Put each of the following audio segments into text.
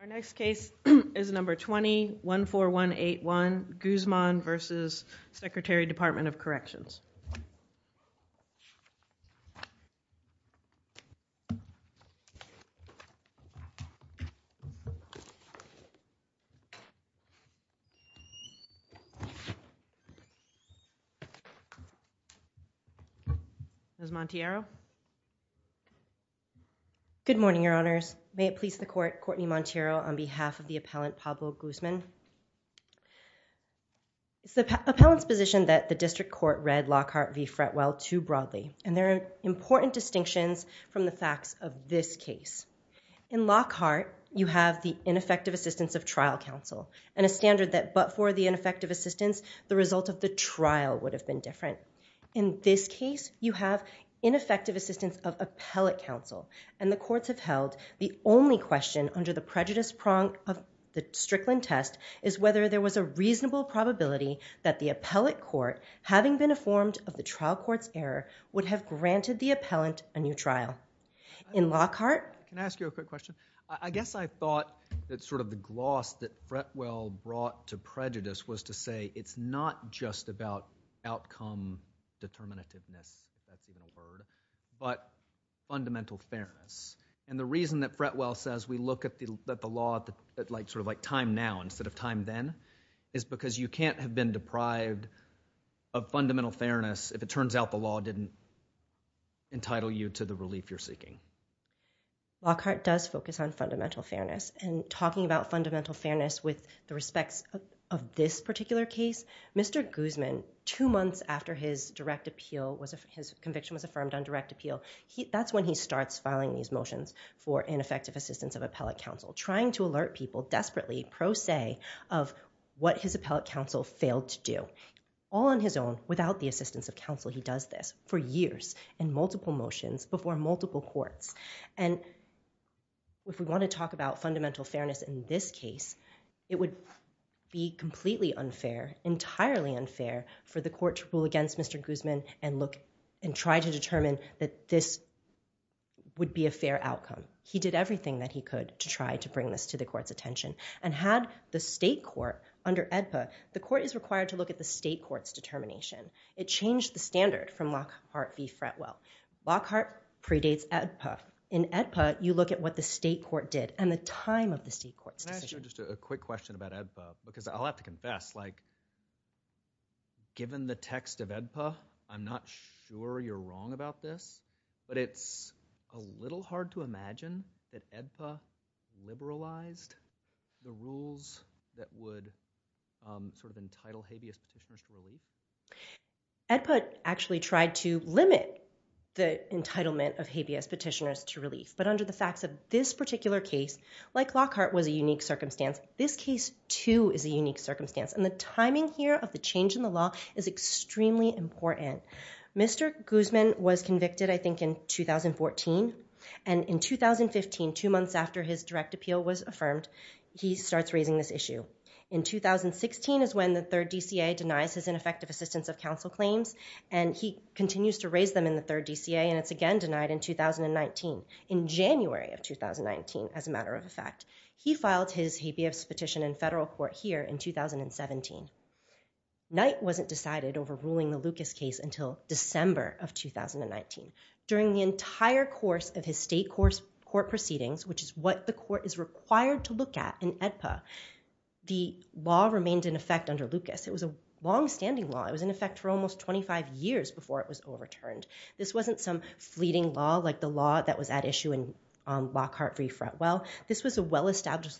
Our next case is number 20-14181 Guzman v. Secretary, Department of Corrections Ms. Montero? Good morning, Your Honors. May it please the court, Courtney Montero on behalf of the appellant Pablo Guzman. It's the appellant's position that the district court read Lockhart v. Fretwell too broadly, and there are important distinctions from the facts of this case. In Lockhart, you have the ineffective assistance of trial counsel and a standard that but for the ineffective assistance, the result of the trial would have been different. In this case, you have ineffective assistance of appellate counsel, and the courts have held the only question under the prejudice prong of the Strickland test is whether there was a reasonable probability that the appellate court, having been informed of the trial court's error, would have granted the appellant a new trial. In Lockhart? Can I ask you a quick question? I guess I thought that sort of the gloss that Fretwell brought to prejudice was to say it's not just about outcome determinativeness, if that's even a word, but fundamental fairness. And the reason that Fretwell says we look at the law sort of like time now instead of time then is because you can't have been deprived of fundamental fairness if it turns out the law didn't entitle you to the relief you're seeking. Lockhart does focus on fundamental fairness, and talking about fundamental fairness with the respects of this particular case, Mr. Guzman, two months after his direct appeal, his conviction was affirmed on direct appeal, that's when he starts filing these motions for ineffective assistance of appellate counsel, trying to alert people desperately, pro se, of what his appellate counsel failed to do. All on his own, without the assistance of counsel, he does this for years, in multiple motions, before multiple courts. And if we want to talk about fundamental fairness in this case, it would be completely unfair, entirely unfair, for the court to rule against Mr. Guzman and try to determine that this would be a fair outcome. He did everything that he could to try to bring this to the court's attention. And had the state court, under AEDPA, the court is required to look at the state court's determination. It changed the standard from Lockhart v. Fretwell. Lockhart predates AEDPA. In AEDPA, you look at what the state court did and the time of the state court's decision. Can I ask you just a quick question about AEDPA? Because I'll have to confess, like, given the text of AEDPA, I'm not sure you're wrong about this, but it's a little hard to imagine that AEDPA liberalized the rules that would sort of entitle habeas petitioners to relief. AEDPA actually tried to limit the entitlement of habeas petitioners to relief. But under the facts of this particular case, like Lockhart was a unique circumstance, this case, too, is a unique circumstance. And the timing here of the change in the law is extremely important. Mr. Guzman was convicted, I think, in 2014. And in 2015, two months after his direct appeal was affirmed, he starts raising this issue. In 2016 is when the third DCA denies his ineffective assistance of counsel claims. And he continues to raise them in the third DCA. And it's again denied in 2019, in January of 2019, as a matter of fact. He filed his habeas petition in federal court here in 2017. Knight wasn't decided over ruling the Lucas case until December of 2019. During the entire course of his state court proceedings, which is what the court is required to look at in AEDPA, the law remained in effect under Lucas. It was a longstanding law. It was in effect for almost 25 years before it was overturned. This wasn't some fleeting law like the law that was at issue in Lockhart v. Fretwell. This was a well-established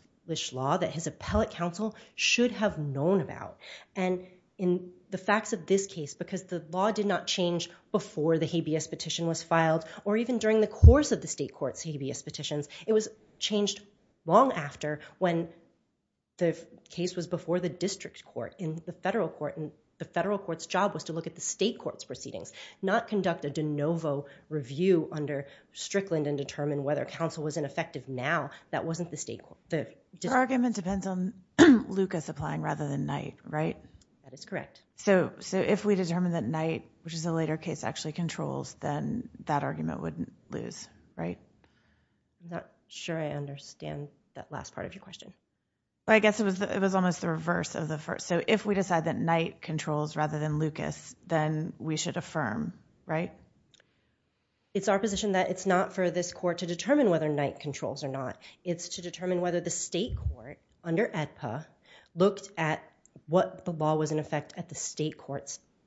law that his appellate counsel should have known about. And in the facts of this case, because the law did not change before the habeas petition was filed or even during the course of the state court's habeas petitions, it was changed long after when the case was before the district court in the federal court. And the federal court's job was to look at the state court's proceedings, not conduct a de novo review under Strickland and determine whether counsel was ineffective now. That wasn't the state court. The argument depends on Lucas applying rather than Knight, right? That is correct. So if we determine that Knight, which is a later case, actually controls, then that argument wouldn't lose, right? I'm not sure I understand that last part of your question. I guess it was almost the reverse of the first. So if we decide that Knight controls rather than Lucas, then we should affirm, right? It's our position that it's not for this court to determine whether Knight controls or not. It's to determine whether the state court under AEDPA looked at what the law was in effect at the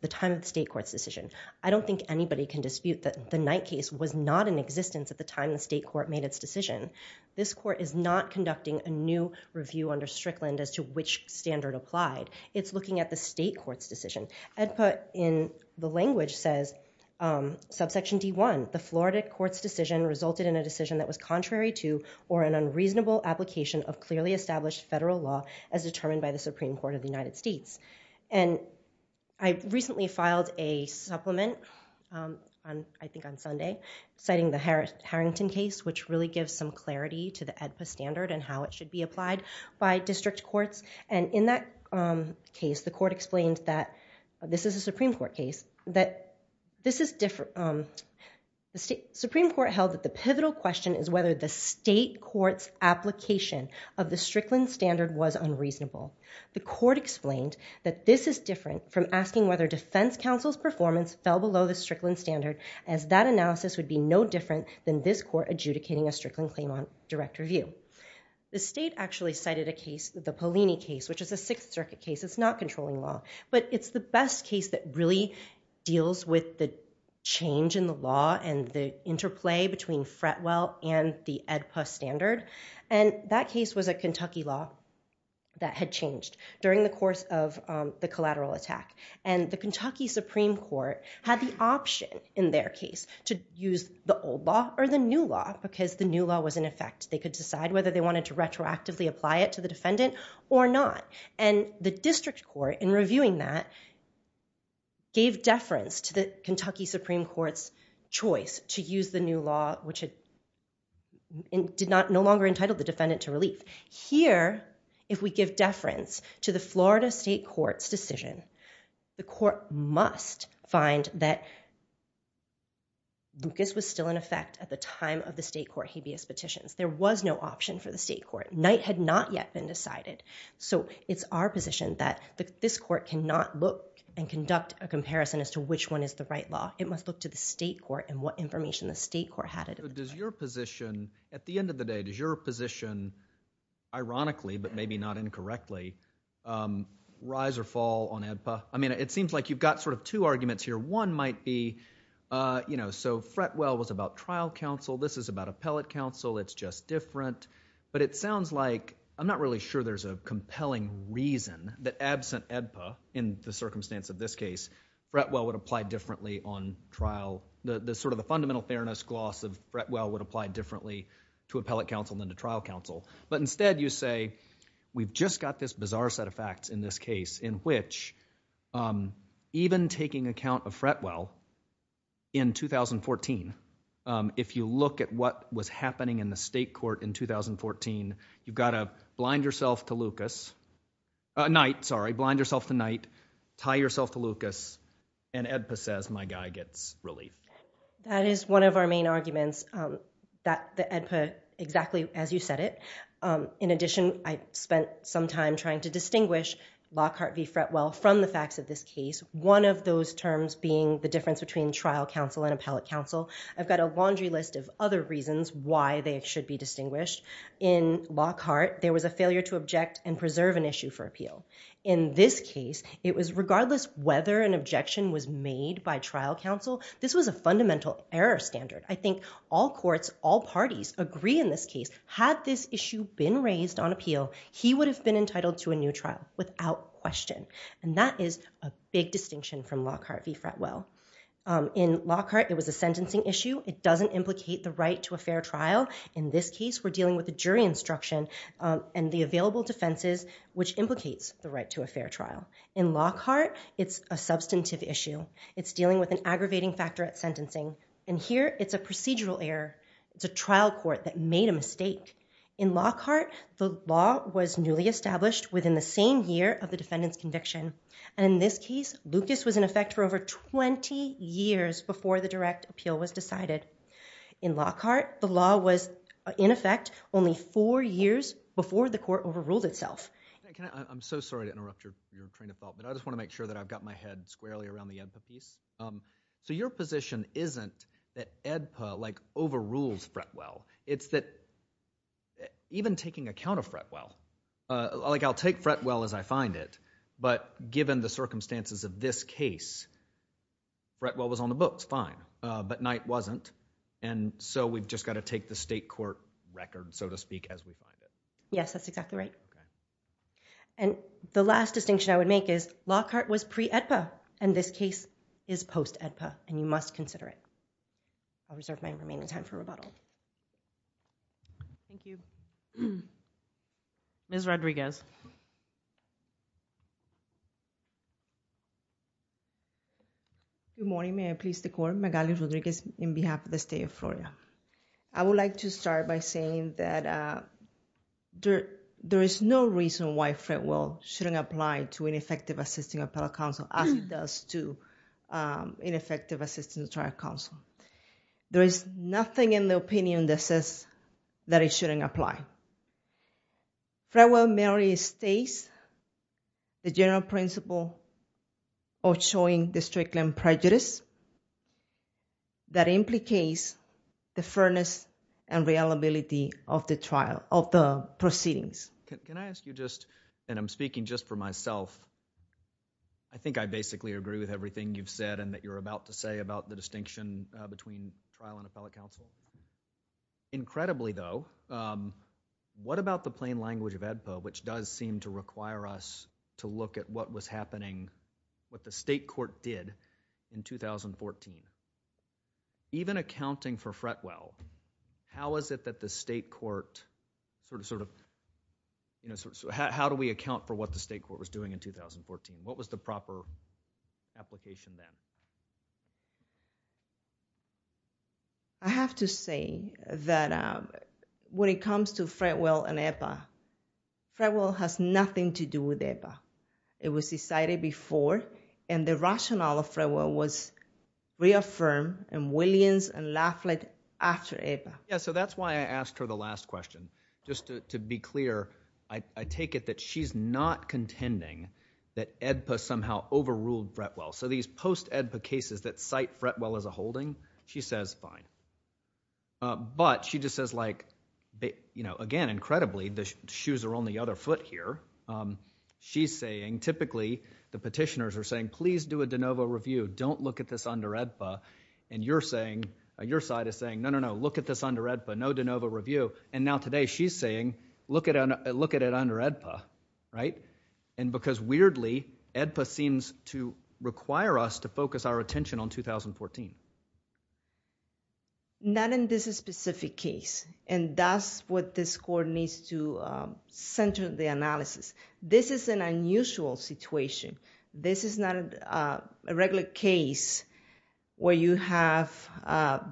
time of the state court's decision. I don't think anybody can dispute that the Knight case was not in existence at the time the state court made its decision. This court is not conducting a new review under Strickland as to which standard applied. It's looking at the state court's decision. AEDPA in the language says, subsection D1, the Florida court's decision resulted in a decision that was contrary to or an unreasonable application of clearly established federal law as determined by the Supreme Court of the United States. And I recently filed a supplement, I think on Sunday, citing the Harrington case, which really gives some clarity to the AEDPA standard and how it should be applied by district courts. And in that case, the court explained that, this is a Supreme Court case, that the Supreme Court held that the pivotal question is whether the state court's application of the Strickland standard was unreasonable. The court explained that this is different from asking whether defense counsel's performance fell below the Strickland standard, as that analysis would be no different than this court adjudicating a Strickland claim on direct review. The state actually cited a case, the Pollini case, which is a Sixth Circuit case. It's not controlling law. But it's the best case that really deals with the change in the law and the interplay between Fretwell and the AEDPA standard. And that case was a Kentucky law that had changed during the course of the collateral attack. And the Kentucky Supreme Court had the option in their case to use the old law or the new law, because the new law was in effect. They could decide whether they wanted to retroactively apply it to the defendant or not. And the district court, in reviewing that, gave deference to the Kentucky Supreme Court's choice to use the new law, which had no longer entitled the defendant to relief. Here, if we give deference to the Florida state court's decision, the court has no choice. There was no option for the state court. Night had not yet been decided. So it's our position that this court cannot look and conduct a comparison as to which one is the right law. It must look to the state court and what information the state court had at the time. So does your position, at the end of the day, does your position, ironically, but maybe not incorrectly, rise or fall on AEDPA? I mean, it seems like you've got sort of two arguments here. One might be, you know, so Fretwell was about trial counsel. This is about appellate counsel. It's just different. But it sounds like I'm not really sure there's a compelling reason that absent AEDPA, in the circumstance of this case, Fretwell would apply differently on trial. The sort of the fundamental fairness gloss of Fretwell would apply differently to appellate counsel than to trial counsel. But instead, you say, we've just got this bizarre set of facts in this case in which even taking account of Fretwell in 2014, if you look at what was happening in the state court in 2014, you've got a blind yourself to Lucas, a knight, sorry, blind yourself to knight, tie yourself to Lucas, and AEDPA says, my guy gets relief. That is one of our main arguments, that the AEDPA, exactly as you said it. In addition, I spent some time trying to distinguish Lockhart v. Fretwell from the facts of this case, one of those terms being the difference between trial counsel and appellate counsel. I've got a laundry list of other reasons why they should be distinguished. In Lockhart, there was a failure to object and preserve an issue for appeal. In this case, it was regardless whether an objection was made by trial counsel, this was a fundamental error standard. I think all courts, all parties agree in this case, had this issue been raised on appeal, he would have been entitled to a new trial without question. And that is a big distinction from Lockhart v. Fretwell. In Lockhart, it was a sentencing issue. It doesn't implicate the right to a fair trial. In this case, we're dealing with a jury instruction and the available defenses which implicates the right to a fair trial. In Lockhart, it's a substantive issue. It's dealing with an aggravating factor at sentencing. And here, it's a procedural error. It's a trial court that made a mistake. In Lockhart, the law was newly established within the same year of the defendant's conviction. And in this case, Lucas was in effect for over 20 years before the direct appeal was decided. In Lockhart, the law was in effect only four years before the court overruled itself. I'm so sorry to interrupt your train of thought, but I just want to make sure that I've got my head squarely around the EDPA piece. So your position isn't that EDPA overrules Fretwell. It's that even taking account of Fretwell, like I'll take Fretwell as I find it, but given the circumstances of this case, Fretwell was on the books, fine. But Knight wasn't. And so we've just got to take the state court record, so to speak, as we find it. Yes, that's exactly right. And the last distinction I would make is Lockhart was pre-EDPA, and this case is post-EDPA, and you must consider it. I'll reserve my remaining time for rebuttal. Thank you. Ms. Rodriguez. Good morning. May I please the court? Magali Rodriguez in behalf of the state of Florida. I would like to start by saying that there is no reason why Fretwell shouldn't apply to ineffective assisting appellate counsel as he does to ineffective assisting the trial counsel. There is nothing in the opinion that says that he shouldn't apply. Fretwell merely overstates the general principle of showing district land prejudice that implicates the fairness and reliability of the trial, of the proceedings. Can I ask you just, and I'm speaking just for myself, I think I basically agree with everything you've said and that you're about to say about the distinction between trial and appellate counsel. Incredibly, though, what about the plain language of EDPA, which does seem to require us to look at what was happening, what the state court did in 2014? Even accounting for Fretwell, how is it that the state court sort of, you know, how do we account for what the state court was doing in 2014? What was the proper application then? I have to say that when it comes to Fretwell and EDPA, Fretwell has nothing to do with EDPA. It was decided before and the rationale of Fretwell was reaffirmed and Williams and Lafley after EDPA. Yeah, so that's why I asked her the last question. Just to be clear, I take it that she's not is a holding? She says, fine. But she just says, like, you know, again, incredibly, the shoes are on the other foot here. She's saying, typically, the petitioners are saying, please do a de novo review. Don't look at this under EDPA. And you're saying, your side is saying, no, no, no, look at this under EDPA, no de novo review. And now today she's saying, look at it under EDPA, right? And because weirdly, EDPA seems to require us to focus our attention on 2014. Not in this specific case. And that's what this court needs to center the analysis. This is an unusual situation. This is not a regular case where you have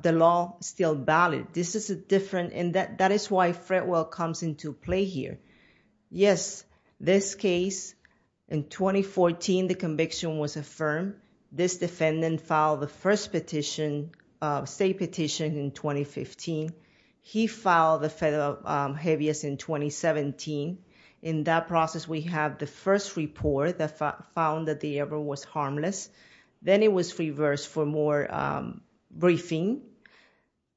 the law still valid. This is a different, and that is why Fretwell comes into play here. Yes, this case, in 2014, the first petition, state petition in 2015, he filed the federal habeas in 2017. In that process, we have the first report that found that the error was harmless. Then it was reversed for more briefing.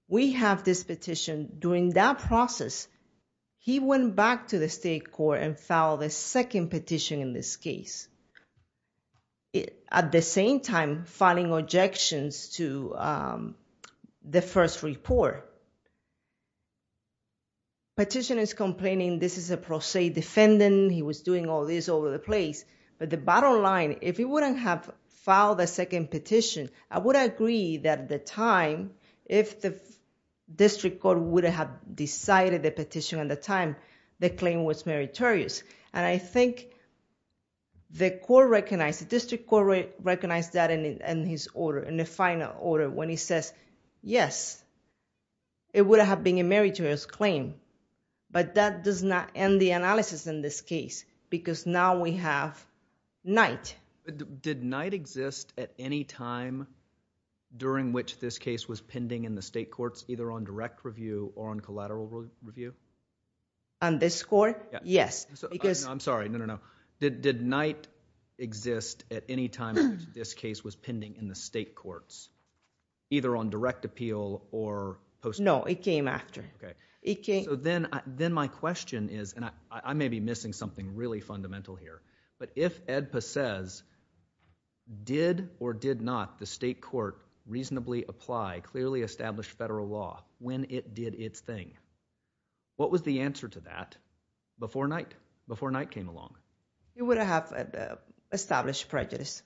We have this petition. During that process, he went back to the state court and filed a second petition in this case. At the same time, filing objections to the first report. Petition is complaining, this is a pro se defendant. He was doing all this over the place. But the bottom line, if he wouldn't have filed a second petition, I would agree that at the time, if the district court would have decided the petition at the time, the claim was meritorious. I think the court recognized, the district court recognized that in his order, in the final order, when he says, yes, it would have been a meritorious claim. But that does not end the analysis in this case, because now we have night. Did night exist at any time during which this case was pending in the state courts, either on direct review or on collateral review? On this court? Yes. I'm sorry, no, no, no. Did night exist at any time in which this case was pending in the state courts, either on direct appeal or post appeal? No, it came after. Then my question is, and I may be missing something really fundamental here, but if Ed Pacez did or did not the state court reasonably apply clearly established federal law when it did its thing, what was the answer to that before night, before night came along? It would have established prejudice.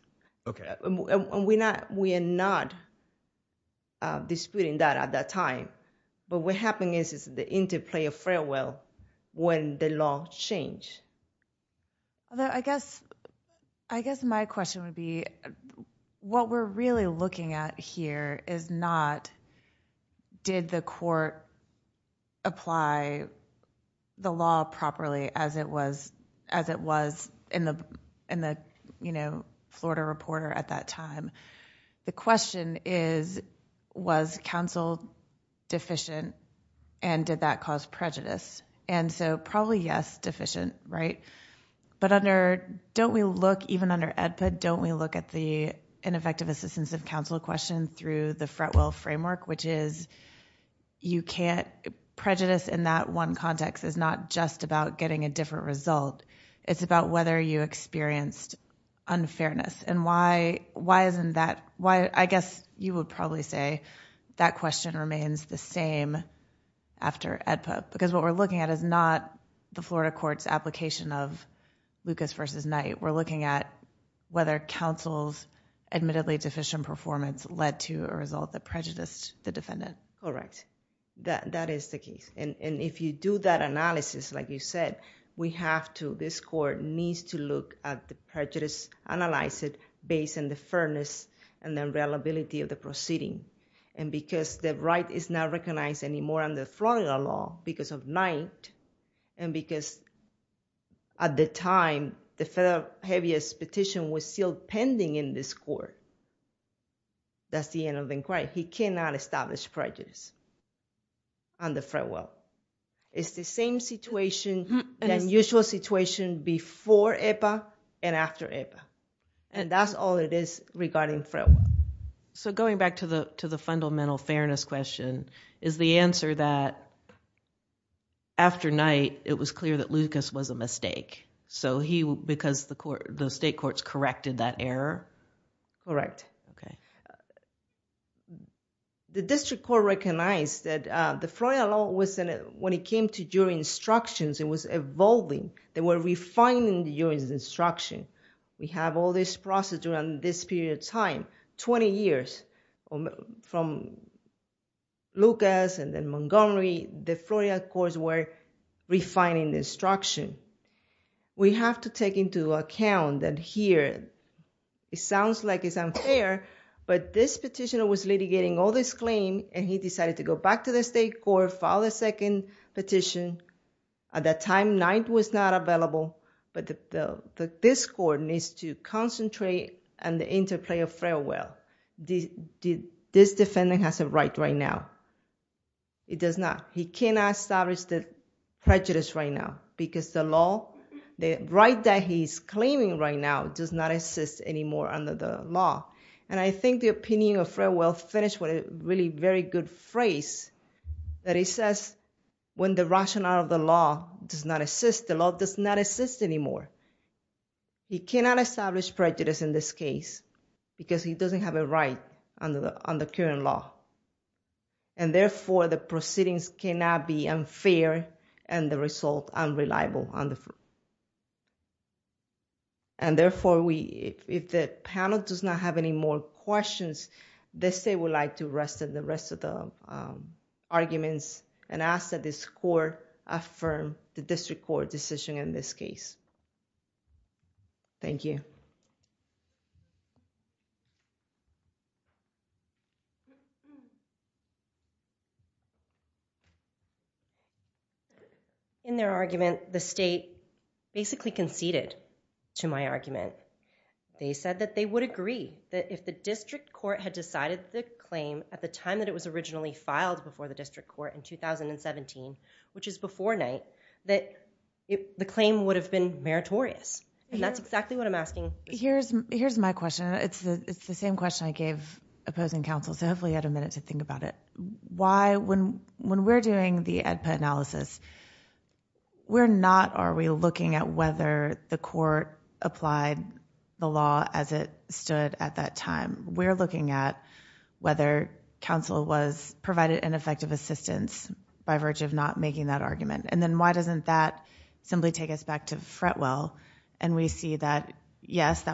Okay. And we are not disputing that at that time. But what happened is the interplay of farewell when the law changed. I guess my question would be, what we're really looking at here is not did the court apply the law properly as it was in the Florida reporter at that time. The question is, was counsel deficient and did that cause prejudice? And so probably yes, deficient, right? But don't we look, even under EDPA, don't we look at the ineffective assistance of counsel question through the fret well framework, which is you can't prejudice in that one context is not just about getting a different result. It's about whether you experienced unfairness and why, why isn't that why? I guess you would probably say that question remains the same after EDPA because what we're looking at is not the Florida courts application of Lucas versus night. We're looking at whether counsel's admittedly deficient performance led to a result that prejudiced the defendant. Correct. That, that is the case. And if you do that analysis, like you said, we have to, this court needs to look at the prejudice, analyze it based on the fairness and then reliability of the proceeding. And because the right is not recognized anymore on the Florida law because of night and because at the time the federal heaviest petition was still pending in this court. That's the end of inquiry. He cannot establish prejudice on the fret well. It's the same situation, unusual situation before EDPA and after EDPA. And that's all it is regarding fret well. So going back to the, to the fundamental fairness question, is the answer that after night, it was clear that Lucas was a mistake. So he, because the court, the state courts corrected that error. Correct. Okay. The district court recognized that the Florida law was, when it came to jury instructions, it was evolving. They were refining the jury's instruction. We have all this process during this period of time, 20 years from Lucas and then Montgomery, the Florida courts were refining the instruction. We have to take into account that here, it sounds like it's unfair, but this petitioner was litigating all this claim and he decided to go back to the state court, file a second petition. At that time, night was not available, but this court needs to concentrate on the interplay of fret well. This defendant has a right right now. It does not, he cannot establish the prejudice right now because the law, the right that he's claiming right now does not assist anymore under the law. And I think the opinion of fret well finished with a really very good phrase that he says, when the rationale of the law does not assist, the law does not assist anymore. He cannot establish prejudice in this case because he doesn't have a right under the, under current law. And therefore, the proceedings cannot be unfair and the result unreliable. And therefore, we, if the panel does not have any more questions, they say we'd like to rest of the rest of the arguments and ask that this court affirm the district court decision in this case. In their argument, the state basically conceded to my argument. They said that they would agree that if the district court had decided the claim at the time that it was originally filed before the district court in 2017, which is before night, that the claim would have been meritorious. And that's exactly what I'm asking. Here's, here's my question. It's the, it's the same question I gave opposing counsel. So hopefully you had a minute to think about it. Why, when, when we're doing the analysis, we're not, are we looking at whether the court applied the law as it stood at that time? We're looking at whether counsel was provided an effective assistance by verge of not making that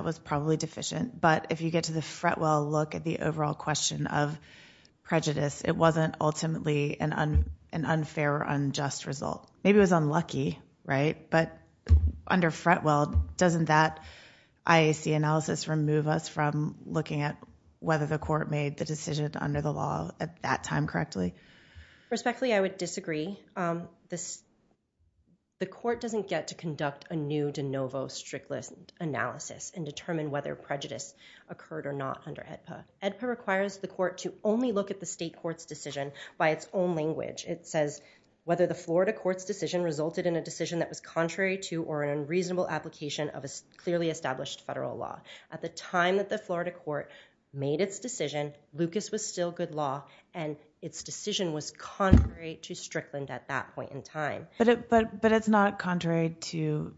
was probably deficient. But if you get to the Fretwell look at the overall question of prejudice, it wasn't ultimately an unfair or unjust result. Maybe it was unlucky, right? But under Fretwell, doesn't that IAC analysis remove us from looking at whether the court made the decision under the law at that time correctly? Respectfully, I would disagree. This, the court doesn't get to conduct a new de novo strict list analysis and determine whether prejudice occurred or not under AEDPA. AEDPA requires the court to only look at the state court's decision by its own language. It says whether the Florida court's decision resulted in a decision that was contrary to or an unreasonable application of a clearly established federal law. At the time that the Florida court made its decision, Lucas was still good law and its decision was contrary to Strickland at that point in time. But it's not contrary to,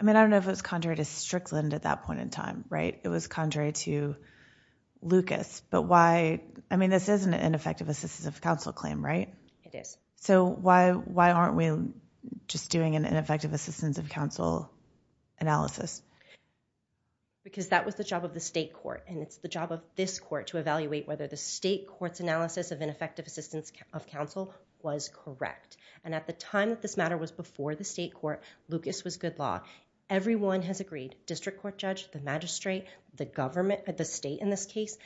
I mean, I don't know if it was contrary to Strickland at that point in time, right? It was contrary to Lucas. But why, I mean, this is an ineffective assistance of counsel claim, right? It is. So why aren't we just doing an ineffective assistance of counsel analysis? Because that was the job of the state court. And it's the job of this court to evaluate whether the state court's analysis of ineffective assistance of counsel was correct. And at the time that this matter was before the state court, Lucas was good law. Everyone has agreed, district court judge, the magistrate, the government, the state in this case,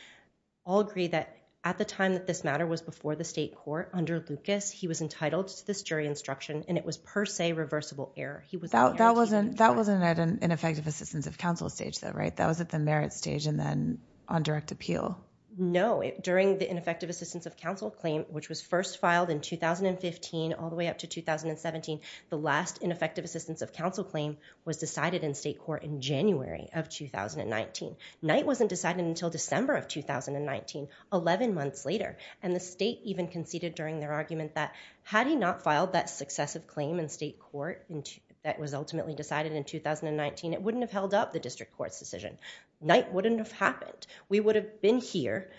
all agree that at the time that this matter was before the state court under Lucas, he was entitled to this jury instruction and it was per se reversible error. He was- That wasn't at an ineffective assistance of counsel stage though, right? That was at the merit stage and then on direct appeal. No. During the ineffective assistance of counsel claim, which was first filed in 2015 all the way up to 2017, the last ineffective assistance of counsel claim was decided in state court in January of 2019. Knight wasn't decided until December of 2019, 11 months later. And the state even conceded during their argument that had he not filed that successive claim in state court that was ultimately decided in 2019, it wouldn't have held up the district court's decision. Knight wouldn't have happened. We would have been here.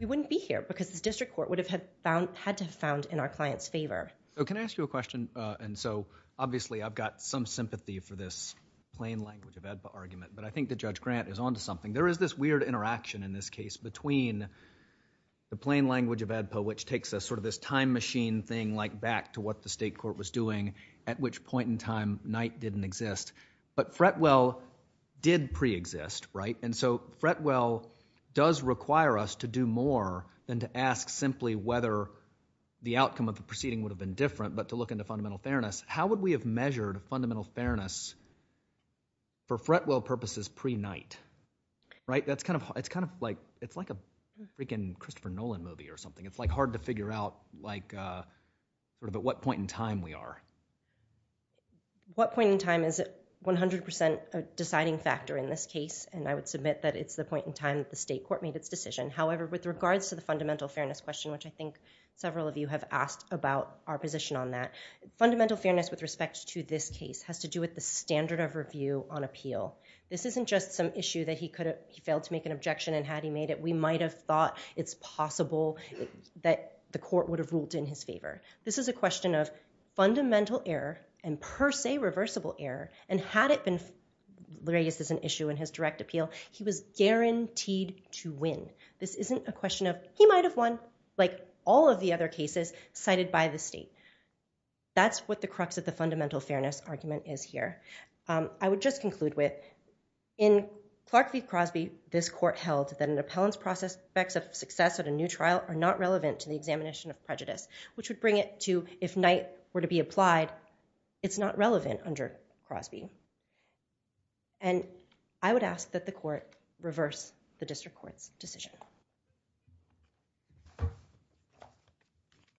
We wouldn't be here because the district court would have had to have found in our client's favor. So can I ask you a question? And so obviously I've got some sympathy for this plain language of ADPA argument, but I think that Judge Grant is onto something. There is this weird interaction in this case between the plain language of ADPA, which takes us sort of this time machine thing like back to what the state court was doing at which point in time Knight didn't exist. But Fretwell did pre-exist, right? And so Fretwell does require us to do more than to ask simply whether the outcome of the proceeding would have been different, but to look into fundamental fairness. How would we have measured fundamental fairness for Fretwell purposes pre-Knight, right? That's kind of, it's kind of like, it's like a freaking Christopher Nolan movie or something. It's like hard to figure out like sort of at what point in time we are. What point in time is it 100% deciding factor in this case? And I would submit that it's the point in time that the state court made its decision. However, with regards to the fundamental fairness question, which I think several of you have asked about our position on that, fundamental fairness with respect to this case has to do with the standard of review on appeal. This isn't just some issue that he could have, he failed to make an objection and had he made it, we might've thought it's possible that the court would have ruled in his favor. This is a and per se reversible error. And had it been raised as an issue in his direct appeal, he was guaranteed to win. This isn't a question of he might've won like all of the other cases cited by the state. That's what the crux of the fundamental fairness argument is here. I would just conclude with in Clark v. Crosby, this court held that an appellant's process effects of success at a new trial are not relevant to the examination of prejudice, which would bring it to if Knight were to be applied, it's not relevant under Crosby. And I would ask that the court reverse the district court's decision.